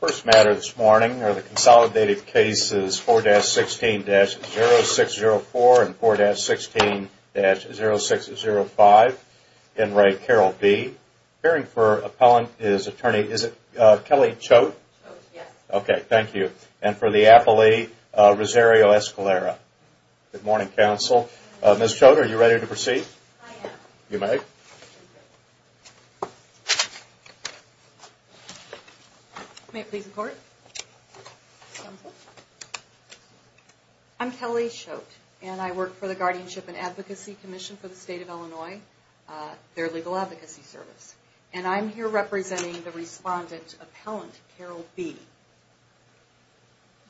First matter this morning are the consolidated cases 4-16-0604 and 4-16-0605 in re Carol B. Appearing for appellant is attorney, is it Kelly Choate? Choate, yes. Okay, thank you. And for the appellee, Rosario Escalera. Good morning, counsel. Good morning. Ms. Choate, are you ready to proceed? I am. You may. Thank you. May it please the court? I'm Kelly Choate and I work for the Guardianship and Advocacy Commission for the State of Illinois. Their legal advocacy service. And I'm here representing the respondent appellant, Carol B.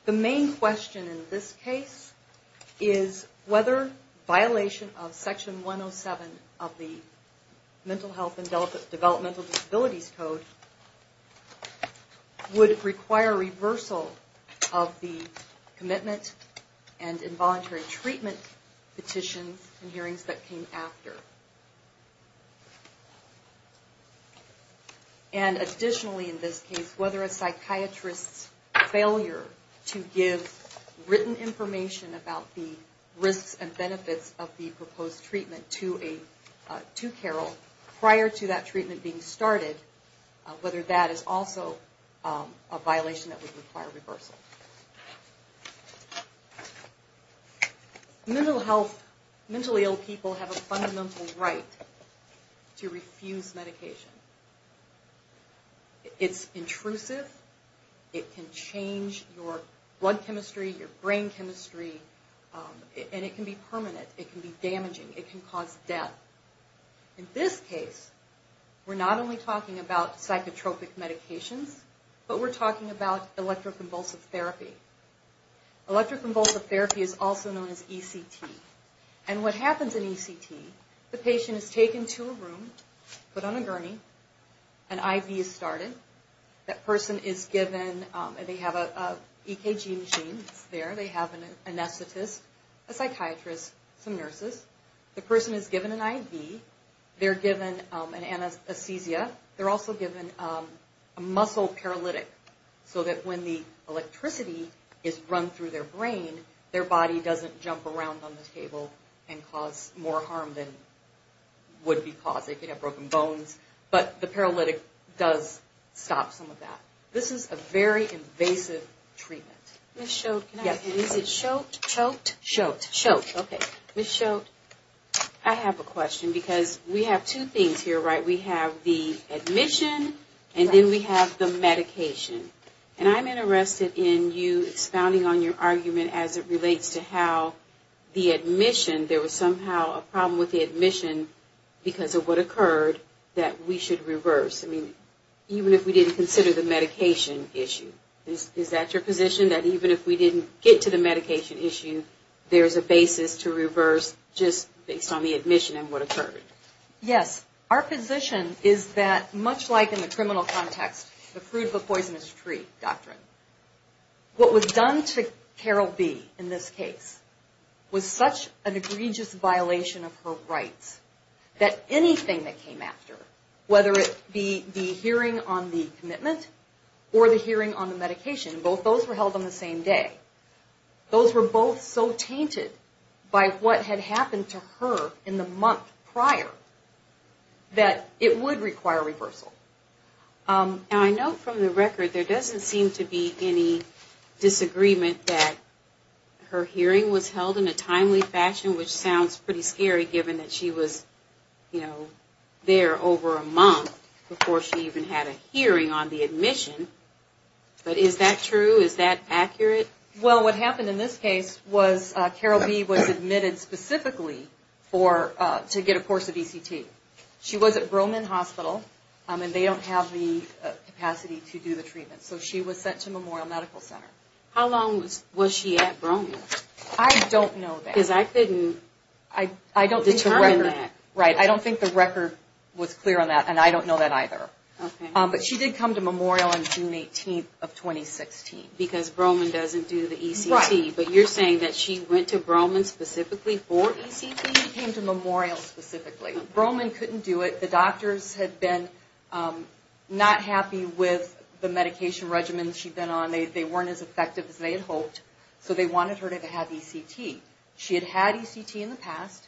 The main question in this case is whether violation of Section 107 of the Mental Health and Developmental Disabilities Code would require reversal of the commitment and involuntary treatment petitions and hearings that came after. And additionally in this case, whether a psychiatrist's failure to give written information about the risks and benefits of the proposed treatment to Carol prior to that treatment being started, whether that is also a violation that would require reversal. Mental health, mentally ill people have a fundamental right to refuse medication. It's intrusive. It can change your blood chemistry, your brain chemistry. And it can be permanent. It can be damaging. It can cause death. In this case, we're not only talking about psychotropic medications, but we're talking about electroconvulsive therapy. Electroconvulsive therapy is also known as ECT. And what happens in ECT, the patient is taken to a room, put on a gurney, an IV is started. That person is given, they have an EKG machine there. They have an anesthetist, a psychiatrist, some nurses. The person is given an IV. They're given an anesthesia. They're also given a muscle paralytic so that when the electricity is run through their brain, their body doesn't jump around on the table and cause more harm than would be causing. They could have broken bones. But the paralytic does stop some of that. This is a very invasive treatment. Ms. Schultz, can I ask you, is it Schultz? Schultz. Schultz, okay. Ms. Schultz, I have a question because we have two things here, right? We have the admission and then we have the medication. And I'm interested in you expounding on your argument as it relates to how the admission, there was somehow a problem with the admission because of what occurred that we should reverse. I mean, even if we didn't consider the medication issue. Is that your position, that even if we didn't get to the medication issue, there's a basis to reverse just based on the admission and what occurred? Yes. Our position is that much like in the criminal context, the fruit of a poisonous tree doctrine, what was done to Carol B. in this case was such an egregious violation of her rights that anything that came after, whether it be the hearing on the commitment or the hearing on the medication, both those were held on the same day. Those were both so tainted by what had happened to her in the month prior that it would require reversal. And I know from the record there doesn't seem to be any disagreement that her hearing was held in a timely fashion, which sounds pretty scary given that she was, you know, there over a month before she even had a hearing on the admission. But is that true? Is that accurate? Well, what happened in this case was Carol B. was admitted specifically to get a course of ECT. She was at Broman Hospital, and they don't have the capacity to do the treatment. So she was sent to Memorial Medical Center. How long was she at Broman? I don't know that. Because I couldn't determine that. Right. I don't think the record was clear on that, and I don't know that either. Okay. But she did come to Memorial on June 18th of 2016. Because Broman doesn't do the ECT. Right. But you're saying that she went to Broman specifically for ECT? She came to Memorial specifically. Broman couldn't do it. The doctors had been not happy with the medication regimen she'd been on. They weren't as effective as they had hoped. So they wanted her to have ECT. She had had ECT in the past,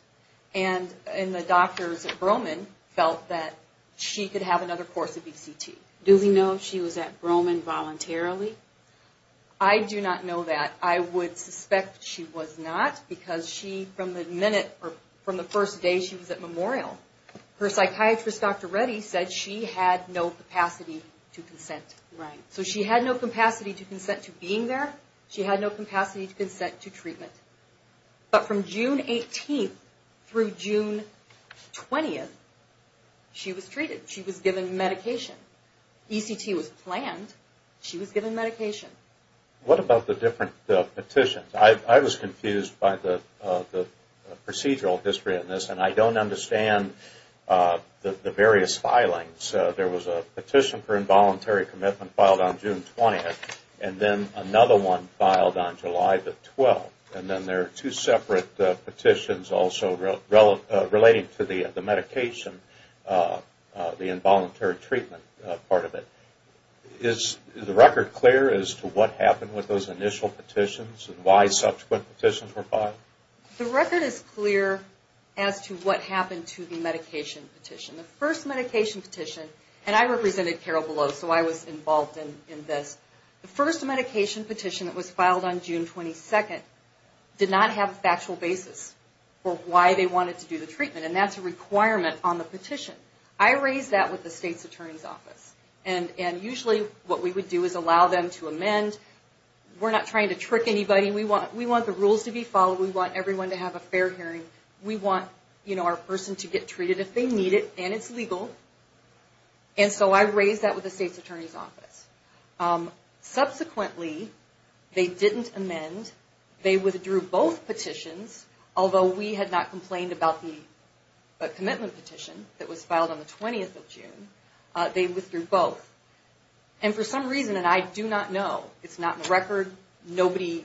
and the doctors at Broman felt that she could have another course of ECT. Do we know if she was at Broman voluntarily? I do not know that. I would suspect she was not, because from the first day she was at Memorial, her psychiatrist, Dr. Reddy, said she had no capacity to consent. Right. So she had no capacity to consent to being there. She had no capacity to consent to treatment. But from June 18th through June 20th, she was treated. She was given medication. ECT was planned. She was given medication. What about the different petitions? I was confused by the procedural history in this, and I don't understand the various filings. There was a petition for involuntary commitment filed on June 20th, and then another one filed on July 12th. And then there are two separate petitions also relating to the medication, the involuntary treatment part of it. Is the record clear as to what happened with those initial petitions and why subsequent petitions were filed? The record is clear as to what happened to the medication petition. The first medication petition, and I represented Carol Below, so I was involved in this. The first medication petition that was filed on June 22nd did not have a factual basis for why they wanted to do the treatment, and that's a requirement on the petition. I raised that with the state's attorney's office, and usually what we would do is allow them to amend. We're not trying to trick anybody. We want the rules to be followed. We want everyone to have a fair hearing. We want our person to get treated if they need it, and it's legal. And so I raised that with the state's attorney's office. Subsequently, they didn't amend. They withdrew both petitions, although we had not complained about the commitment petition that was filed on the 20th of June, they withdrew both. And for some reason, and I do not know, it's not in the record, nobody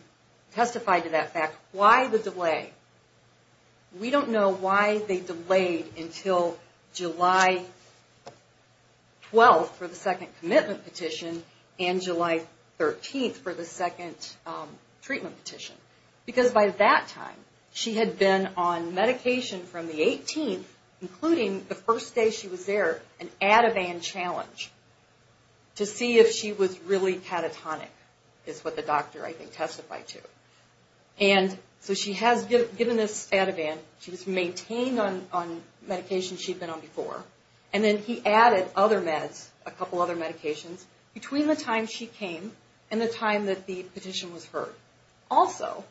testified to that fact, why the delay? We don't know why they delayed until July 12th for the second commitment petition and July 13th for the second treatment petition. Because by that time, she had been on medication from the 18th, including the first day she was there, an Ativan challenge, to see if she was really catatonic, is what the doctor, I think, testified to. And so she has given this Ativan. She was maintained on medication she'd been on before, and then he added other meds, a couple other medications, between the time she came and the time that the petition was heard. Also,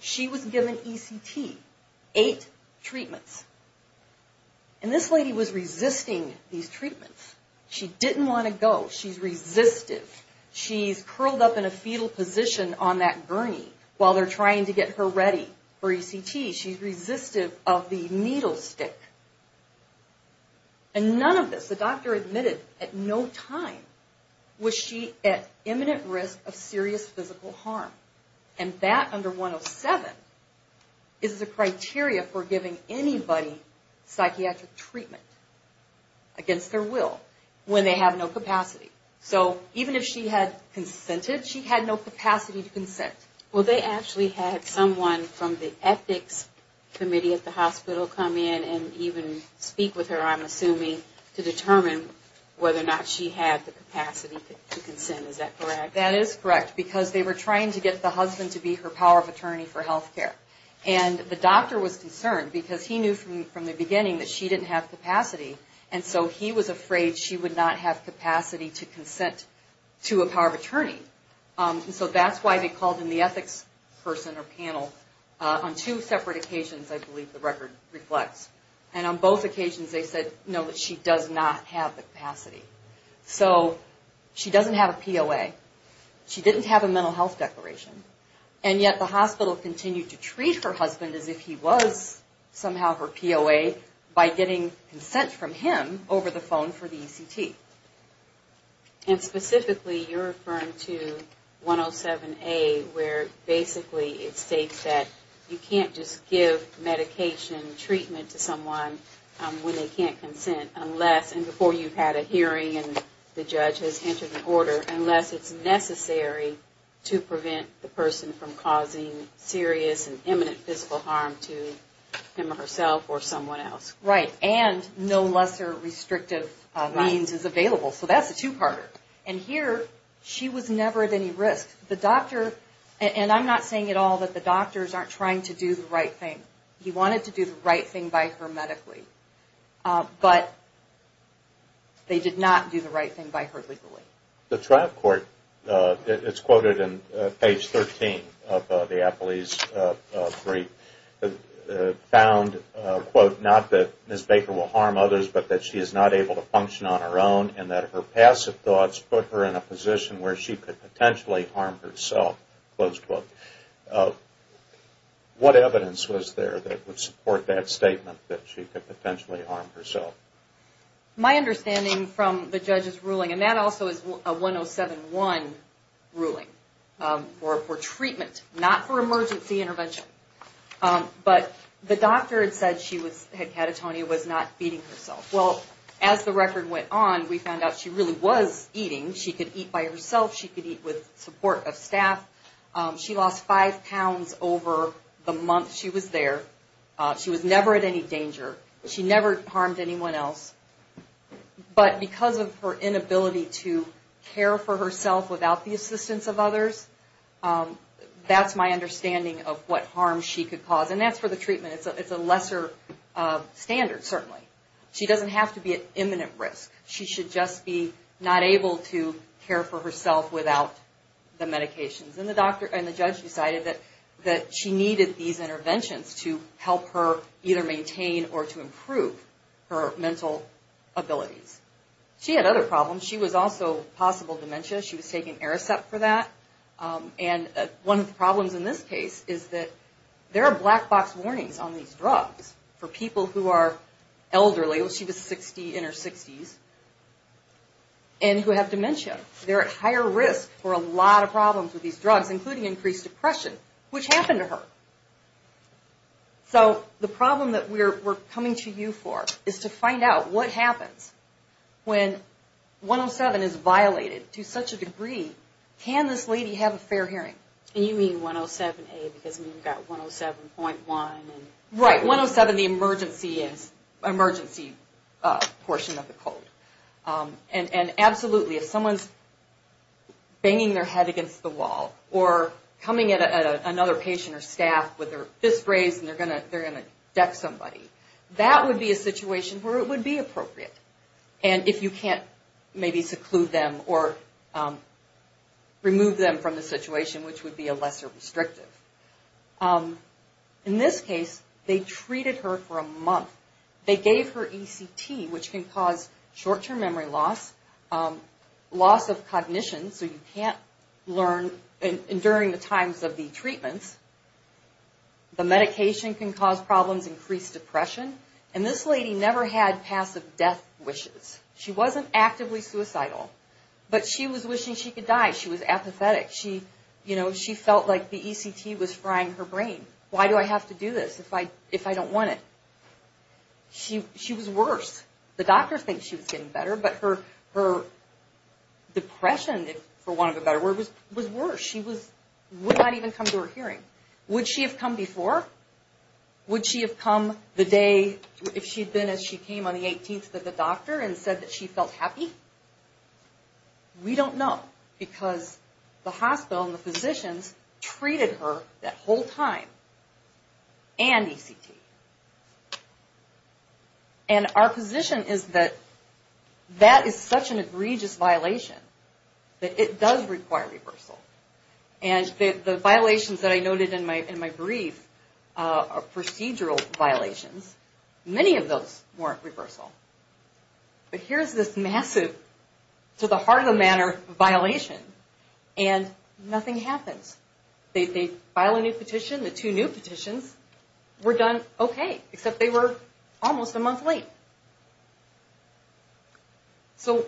she was given ECT, eight treatments. And this lady was resisting these treatments. She didn't want to go. She's resistive. She's curled up in a fetal position on that gurney while they're trying to get her ready for ECT. She's resistive of the needle stick. And none of this, the doctor admitted at no time, was she at imminent risk of serious physical harm. And that under 107 is the criteria for giving anybody psychiatric treatment against their will when they have no capacity. So even if she had consented, she had no capacity to consent. Well, they actually had someone from the ethics committee at the hospital come in and even speak with her, I'm assuming, to determine whether or not she had the capacity to consent. Is that correct? That is correct. Because they were trying to get the husband to be her power of attorney for health care. And the doctor was concerned because he knew from the beginning that she didn't have capacity. And so he was afraid she would not have capacity to consent to a power of attorney. And so that's why they called in the ethics person or panel on two separate occasions, I believe the record reflects. And on both occasions they said, no, that she does not have the capacity. So she doesn't have a POA. She didn't have a mental health declaration. And yet the hospital continued to treat her husband as if he was somehow her POA by getting consent from him over the phone for the ECT. And specifically you're referring to 107A where basically it states that you can't just give medication treatment to someone when they can't consent unless, and before you've had a hearing and the judge has entered an order, unless it's necessary to prevent the person from causing serious and imminent physical harm to him or herself or someone else. Right. And no lesser restrictive means is available. So that's a two-parter. And here she was never at any risk. The doctor, and I'm not saying at all that the doctors aren't trying to do the right thing. He wanted to do the right thing by her medically. But they did not do the right thing by her legally. The trial court, it's quoted in page 13 of the Apolese brief, found, quote, not that Ms. Baker will harm others but that she is not able to function on her own and that her passive thoughts put her in a position where she could potentially harm herself, close quote. What evidence was there that would support that statement that she could potentially harm herself? My understanding from the judge's ruling, and that also is a 107-1 ruling, for treatment, not for emergency intervention. But the doctor had said she was, had catatonia, was not feeding herself. Well, as the record went on, we found out she really was eating. She could eat by herself. She could eat with support of staff. She lost five pounds over the month she was there. She was never at any danger. She never harmed anyone else. But because of her inability to care for herself without the assistance of others, that's my understanding of what harm she could cause. And that's for the treatment. It's a lesser standard, certainly. She doesn't have to be at imminent risk. She should just be not able to care for herself without the medications. And the judge decided that she needed these interventions to help her either maintain or to improve her mental abilities. She had other problems. She was also possible dementia. She was taking Aricept for that. And one of the problems in this case is that there are black box warnings on these drugs for people who are elderly. She was 60, in her 60s, and who have dementia. They're at higher risk for a lot of problems with these drugs, including increased depression, which happened to her. So the problem that we're coming to you for is to find out what happens when 107 is violated to such a degree. Can this lady have a fair hearing? And you mean 107A because we've got 107.1. Right, 107, the emergency portion of the code. And absolutely, if someone's banging their head against the wall or coming at another patient or staff with their fist raised and they're going to deck somebody, that would be a situation where it would be appropriate. And if you can't maybe seclude them or remove them from the situation, which would be a lesser restrictive. In this case, they treated her for a month. They gave her ECT, which can cause short-term memory loss, loss of cognition, so you can't learn during the times of the treatments. The medication can cause problems, increase depression. And this lady never had passive death wishes. She wasn't actively suicidal, but she was wishing she could die. She was apathetic. She felt like the ECT was frying her brain. Why do I have to do this if I don't want it? She was worse. The doctor thinks she was getting better, but her depression, for want of a better word, was worse. She would not even come to her hearing. Would she have come before? Would she have come the day if she had been as she came on the 18th at the doctor and said that she felt happy? We don't know because the hospital and the physicians treated her that whole time and ECT. And our position is that that is such an egregious violation that it does require reversal. And the violations that I noted in my brief are procedural violations. Many of those weren't reversal. But here's this massive, to the heart of the matter, violation, and nothing happens. They file a new petition. The two new petitions were done okay, except they were almost a month late. So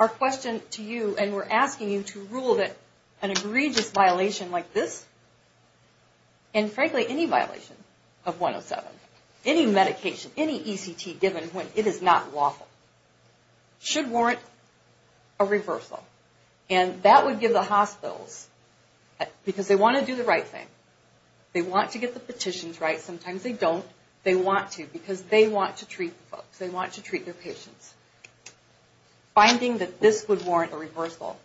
our question to you, and we're asking you to rule that an egregious violation like this, and frankly any violation of 107, any medication, any ECT given when it is not lawful, should warrant a reversal. And that would give the hospitals, because they want to do the right thing. They want to get the petitions right. Sometimes they don't. They want to because they want to treat the folks. They want to treat their patients. Finding that this would warrant a reversal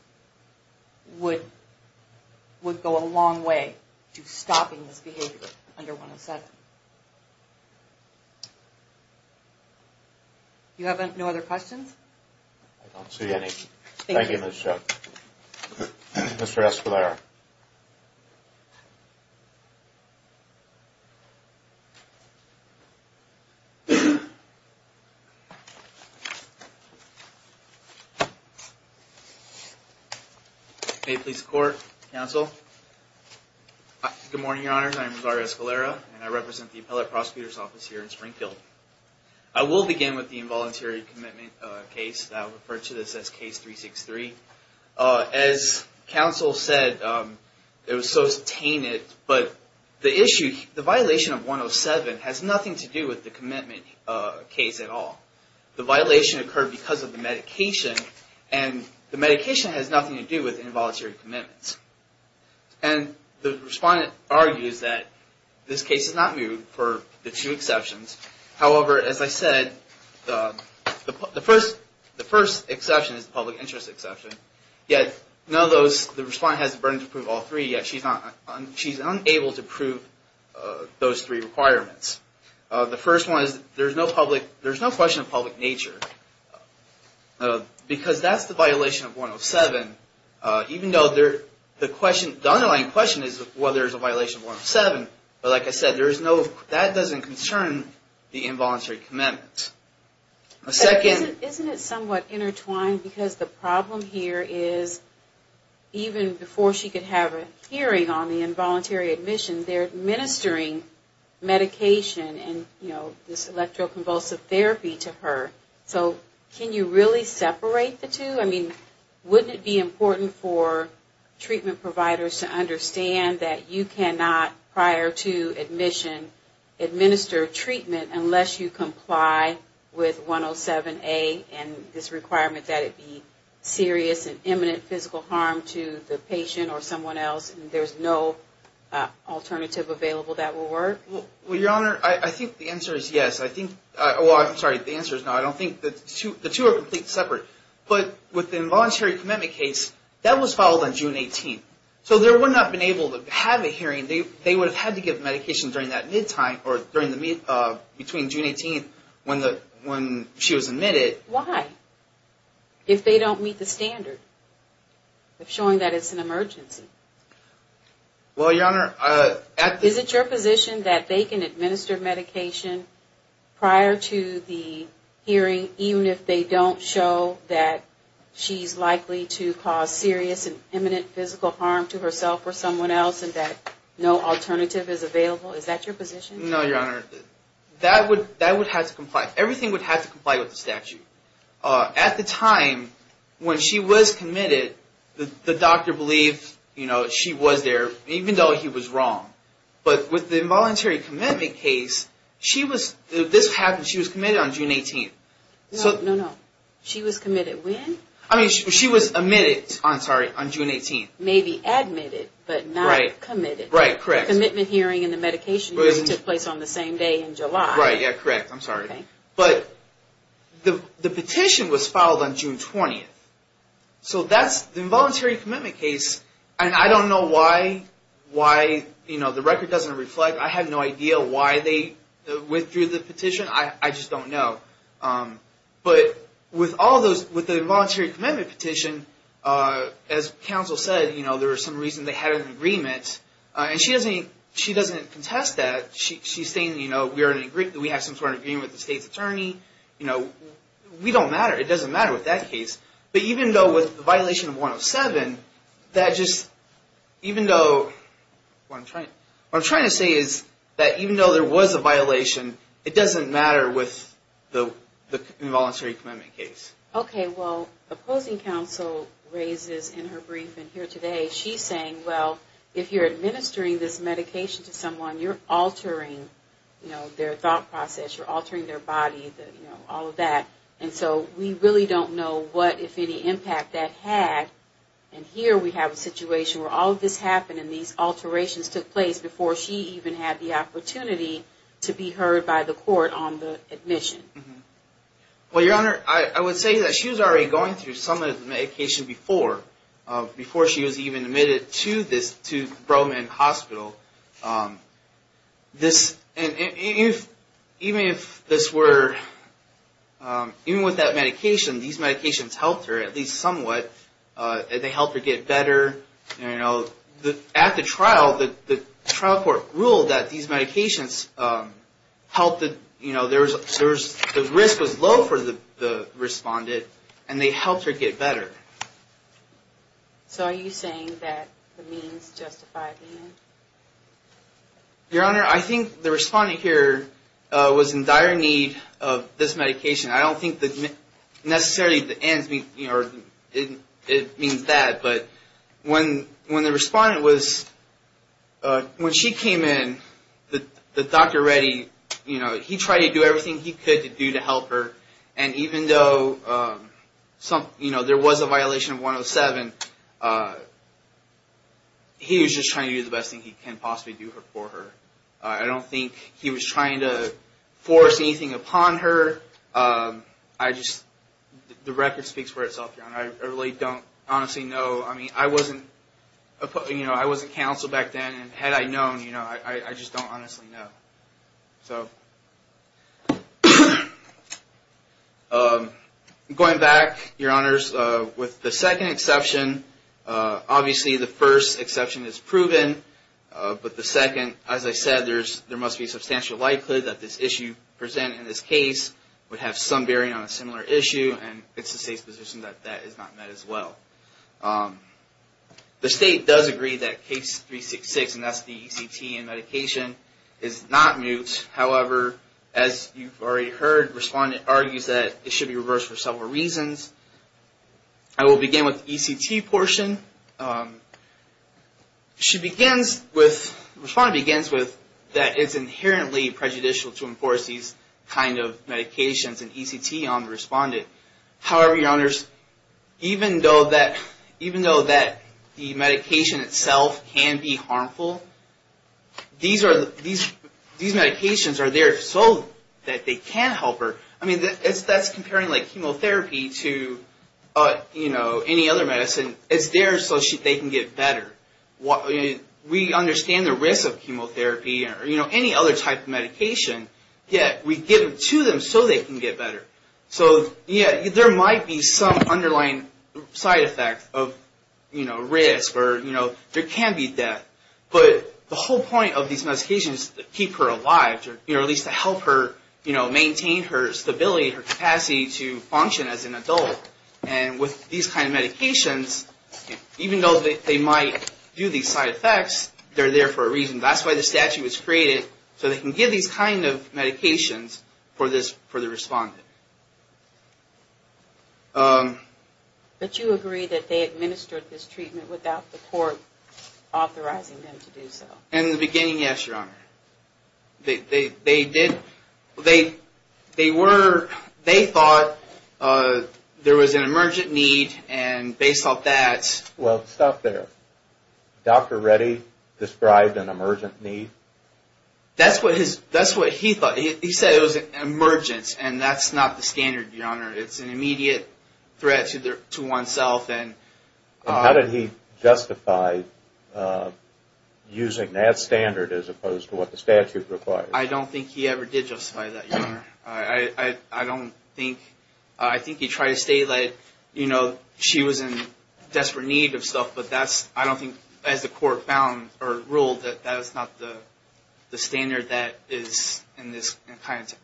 would go a long way to stopping this behavior under 107. Do you have no other questions? I don't see any. Thank you. Thank you, Ms. Schuch. Mr. Espelar. May it please the Court, Counsel. Good morning, Your Honors. I am Rosario Espelar, and I represent the Appellate Prosecutor's Office here in Springfield. I will begin with the involuntary commitment case. I will refer to this as Case 363. As Counsel said, it was so tainted, but the issue, the violation of 107 has nothing to do with the commitment case at all. The violation occurred because of the medication, and the medication has nothing to do with involuntary commitments. And the respondent argues that this case is not moved for the two exceptions. However, as I said, the first exception is the public interest exception. Yet, none of those, the respondent has the burden to prove all three, yet she's unable to prove those three requirements. The first one is there's no question of public nature, because that's the violation of 107, even though the underlying question is whether there's a violation of 107. But like I said, that doesn't concern the involuntary commitment. A second. Isn't it somewhat intertwined, because the problem here is even before she could have a hearing on the involuntary admission, they're administering medication and, you know, this electroconvulsive therapy to her. So can you really separate the two? I mean, wouldn't it be important for treatment providers to understand that you cannot, prior to admission, administer treatment unless you comply with 107A and this requirement that it be serious and imminent physical harm to the patient or someone else, and there's no alternative available that will work? Well, Your Honor, I think the answer is yes. I think, well, I'm sorry, the answer is no. I don't think, the two are completely separate. But with the involuntary commitment case, that was filed on June 18th. So there would not have been able to have a hearing. They would have had to give medication during that mid-time or between June 18th when she was admitted. Why? If they don't meet the standard of showing that it's an emergency? Well, Your Honor, at the... Is it your position that they can administer medication prior to the hearing even if they don't show that she's likely to cause serious and imminent physical harm to herself or someone else and that no alternative is available? Is that your position? No, Your Honor. That would have to comply. Everything would have to comply with the statute. At the time when she was committed, the doctor believed she was there even though he was wrong. But with the involuntary commitment case, she was, this happened, she was committed on June 18th. No, no, no. She was committed when? I mean, she was admitted, I'm sorry, on June 18th. Maybe admitted, but not committed. Right, correct. The commitment hearing and the medication hearing took place on the same day in July. Right, yeah, correct. I'm sorry. But the petition was filed on June 20th. So that's, the involuntary commitment case, and I don't know why, why, you know, the record doesn't reflect. I have no idea why they withdrew the petition. I just don't know. But with all those, with the involuntary commitment petition, as counsel said, you know, there was some reason they had an agreement. And she doesn't contest that. She's saying, you know, we have some sort of agreement with the state's attorney. You know, we don't matter. It doesn't matter with that case. But even though with the violation of 107, that just, even though, what I'm trying to say is that even though there was a violation, it doesn't matter with the involuntary commitment case. Okay, well, opposing counsel raises in her briefing here today, she's saying, well, if you're administering this medication to someone, you're altering, you know, their thought process. You're altering their body, you know, all of that. And so we really don't know what, if any, impact that had. And here we have a situation where all of this happened and these alterations took place before she even had the opportunity to be heard by the court on the admission. Well, Your Honor, I would say that she was already going through some of the medication before. Before she was even admitted to this, to Bro-Man Hospital. This, even if this were, even with that medication, these medications helped her at least somewhat. They helped her get better, you know. At the trial, the trial court ruled that these medications helped, you know, the risk was low for the respondent and they helped her get better. So are you saying that the means justified the end? Your Honor, I think the respondent here was in dire need of this medication. I don't think that necessarily the ends, you know, it means that. But when the respondent was, when she came in, the doctor ready, you know, he tried to do everything he could to do to help her. And even though, you know, there was a violation of 107, he was just trying to do the best thing he can possibly do for her. I don't think he was trying to force anything upon her. I just, the record speaks for itself, Your Honor. I really don't honestly know. I mean, I wasn't, you know, I wasn't counsel back then. And had I known, you know, I just don't honestly know. So, going back, Your Honors, with the second exception, obviously the first exception is proven. But the second, as I said, there must be substantial likelihood that this issue presented in this case would have some bearing on a similar issue. And it's the State's position that that is not met as well. The State does agree that case 366, and that's the ECT and medication, is not moot. However, as you've already heard, the respondent argues that it should be reversed for several reasons. I will begin with the ECT portion. She begins with, the respondent begins with that it's inherently prejudicial to enforce these kind of medications and ECT on the respondent. However, Your Honors, even though that the medication itself can be harmful, these medications are there so that they can help her. I mean, that's comparing like chemotherapy to, you know, any other medicine. It's there so they can get better. We understand the risk of chemotherapy or, you know, any other type of medication, yet we give it to them so they can get better. So, yeah, there might be some underlying side effect of, you know, risk or, you know, there can be death. But the whole point of these medications is to keep her alive, you know, at least to help her, you know, maintain her stability, her capacity to function as an adult. And with these kind of medications, even though they might do these side effects, they're there for a reason. That's why the statute was created, so they can give these kind of medications for this, for the respondent. But you agree that they administered this treatment without the court authorizing them to do so? In the beginning, yes, Your Honor. They did, they were, they thought there was an emergent need and based off that. Well, stop there. Dr. Reddy described an emergent need? That's what he thought. He said it was an emergent and that's not the standard, Your Honor. It's an immediate threat to oneself. How did he justify using that standard as opposed to what the statute requires? I don't think he ever did justify that, Your Honor. I don't think, I think he tried to say that, you know, she was in desperate need of stuff, but that's, I don't think, as the court found, or ruled, that that's not the standard that is in this,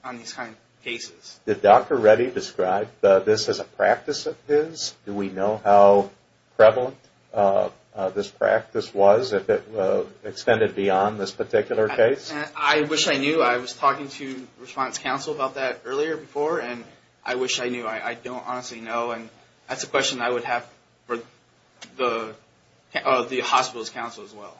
on these kind of cases. Did Dr. Reddy describe this as a practice of his? Do we know how prevalent this practice was, if it extended beyond this particular case? I wish I knew. I was talking to response counsel about that earlier before, and I wish I knew. I don't honestly know, and that's a question I would have for the hospital's counsel as well.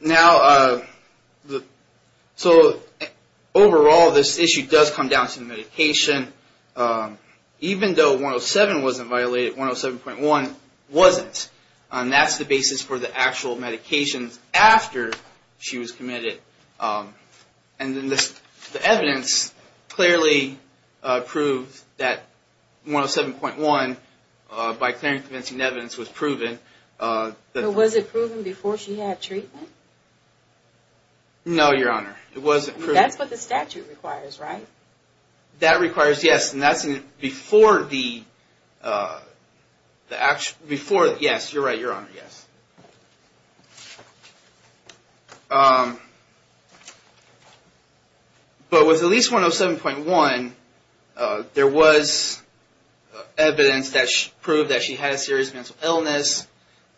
Now, so overall, this issue does come down to the medication. Even though 107 wasn't violated, 107.1 wasn't. And that's the basis for the actual medications after she was committed. And the evidence clearly proved that 107.1, by clear and convincing evidence, was proven. But was it proven before she had treatment? No, Your Honor. It wasn't proven. That's what the statute requires, right? That requires, yes, and that's before the, before, yes, you're right, Your Honor, yes. But with at least 107.1, there was evidence that proved that she had a serious mental illness,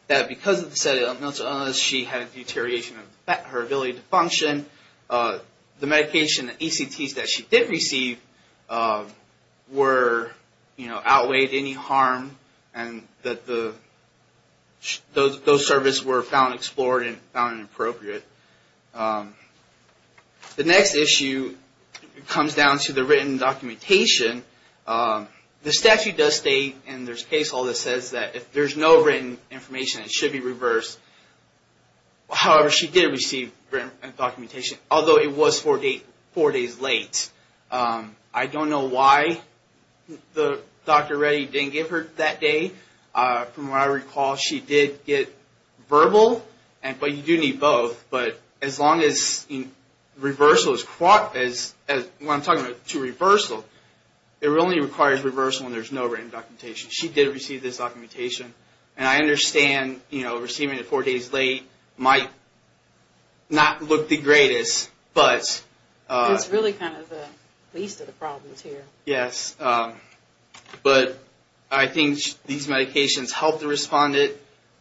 that because of the serious mental illness, she had a deterioration of her ability to function. The medication, the ECTs that she did receive were, you know, outweighed any harm, and that those services were found explored and found inappropriate. The next issue comes down to the written documentation. The statute does state, and there's a case law that says that if there's no written information, it should be reversed. However, she did receive written documentation, although it was four days late. I don't know why Dr. Reddy didn't give her that day. From what I recall, she did get verbal, but you do need both. But as long as reversal is, when I'm talking about to reversal, it only requires reversal when there's no written documentation. She did receive this documentation. And I understand, you know, receiving it four days late might not look the greatest, but... It's really kind of the least of the problems here. Yes. But I think these medications helped the respondent,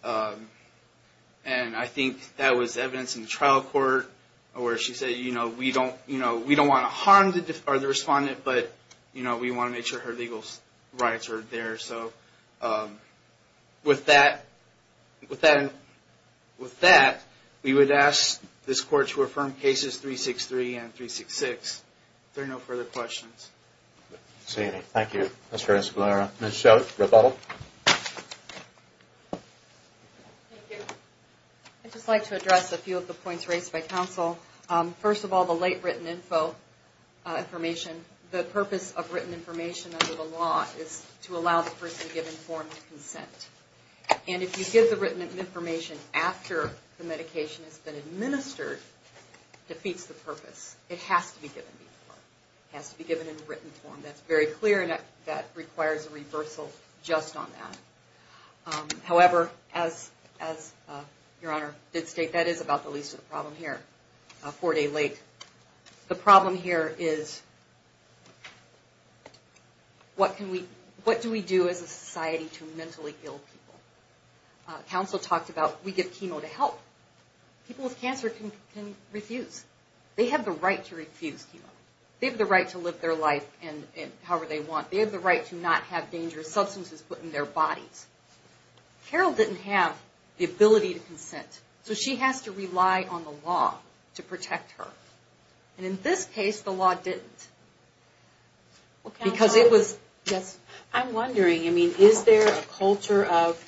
and I think that was evidence in the trial court where she said, you know, we don't want to harm the respondent, but, you know, we want to make sure her legal rights are there. So with that, we would ask this court to affirm cases 363 and 366. If there are no further questions. Thank you, Mr. Escalera. Ms. Schott, rebuttal. Thank you. I'd just like to address a few of the points raised by counsel. First of all, the late written info information. The purpose of written information under the law is to allow the person to give informed consent. And if you give the written information after the medication has been administered, it defeats the purpose. It has to be given before. It has to be given in written form. That's very clear, and that requires a reversal just on that. However, as Your Honor did state, that is about the least of the problems here, four days late. The problem here is what do we do as a society to mentally ill people? Counsel talked about we give chemo to help. People with cancer can refuse. They have the right to refuse chemo. They have the right to live their life however they want. They have the right to not have dangerous substances put in their bodies. Carol didn't have the ability to consent. So she has to rely on the law to protect her. And in this case, the law didn't. Because it was... I'm wondering, I mean, is there a culture of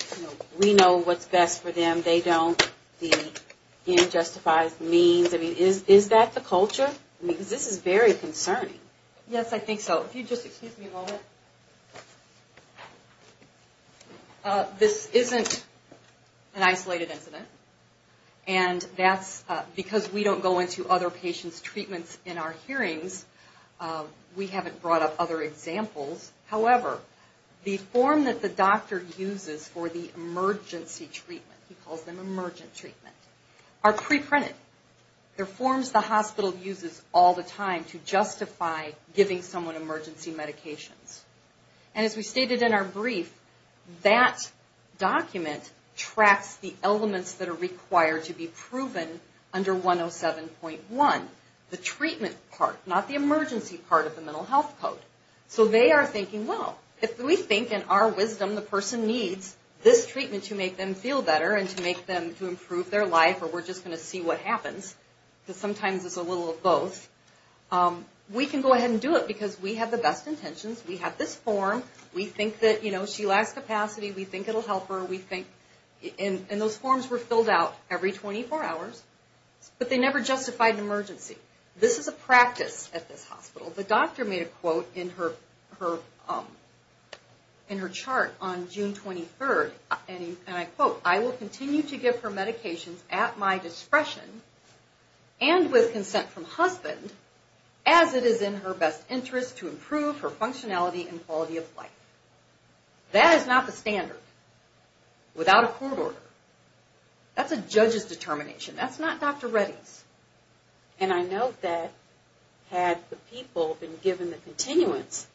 we know what's best for them, they don't, the unjustified means. I mean, is that the culture? Because this is very concerning. Yes, I think so. If you'd just excuse me a moment. This isn't an isolated incident. And that's because we don't go into other patients' treatments in our hearings. We haven't brought up other examples. However, the form that the doctor uses for the emergency treatment, he calls them emergent treatment, are preprinted. They're forms the hospital uses all the time to justify giving someone emergency medications. And as we stated in our brief, that document tracks the elements that are required to be proven under 107.1. The treatment part, not the emergency part of the mental health code. So they are thinking, well, if we think in our wisdom the person needs this treatment to make them feel better and to make them, to improve their life, or we're just going to see what happens, because sometimes it's a little of both, we can go ahead and do it because we have the best intentions. We have this form. We think that, you know, she lacks capacity. We think it'll help her. We think... And those forms were filled out every 24 hours, but they never justified an emergency. This is a practice at this hospital. The doctor made a quote in her chart on June 23rd, and I quote, I will continue to give her medications at my discretion and with consent from husband, as it is in her best interest to improve her functionality and quality of life. That is not the standard without a court order. That's a judge's determination. That's not Dr. Reddy's. And I note that had the people been given the continuance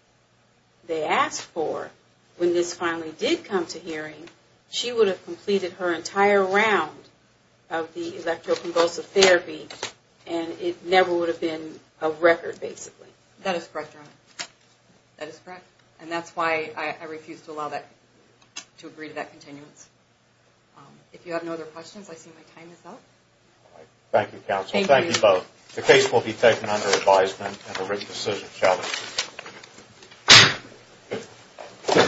they asked for when this finally did come to hearing, she would have completed her entire round of the electroconvulsive therapy, and it never would have been a record, basically. That is correct, Dr. Reddy. That is correct. And that's why I refuse to allow that, to agree to that continuance. If you have no other questions, I see my time is up. Thank you, counsel. Thank you both. The case will be taken under advisement and a written decision shall be issued.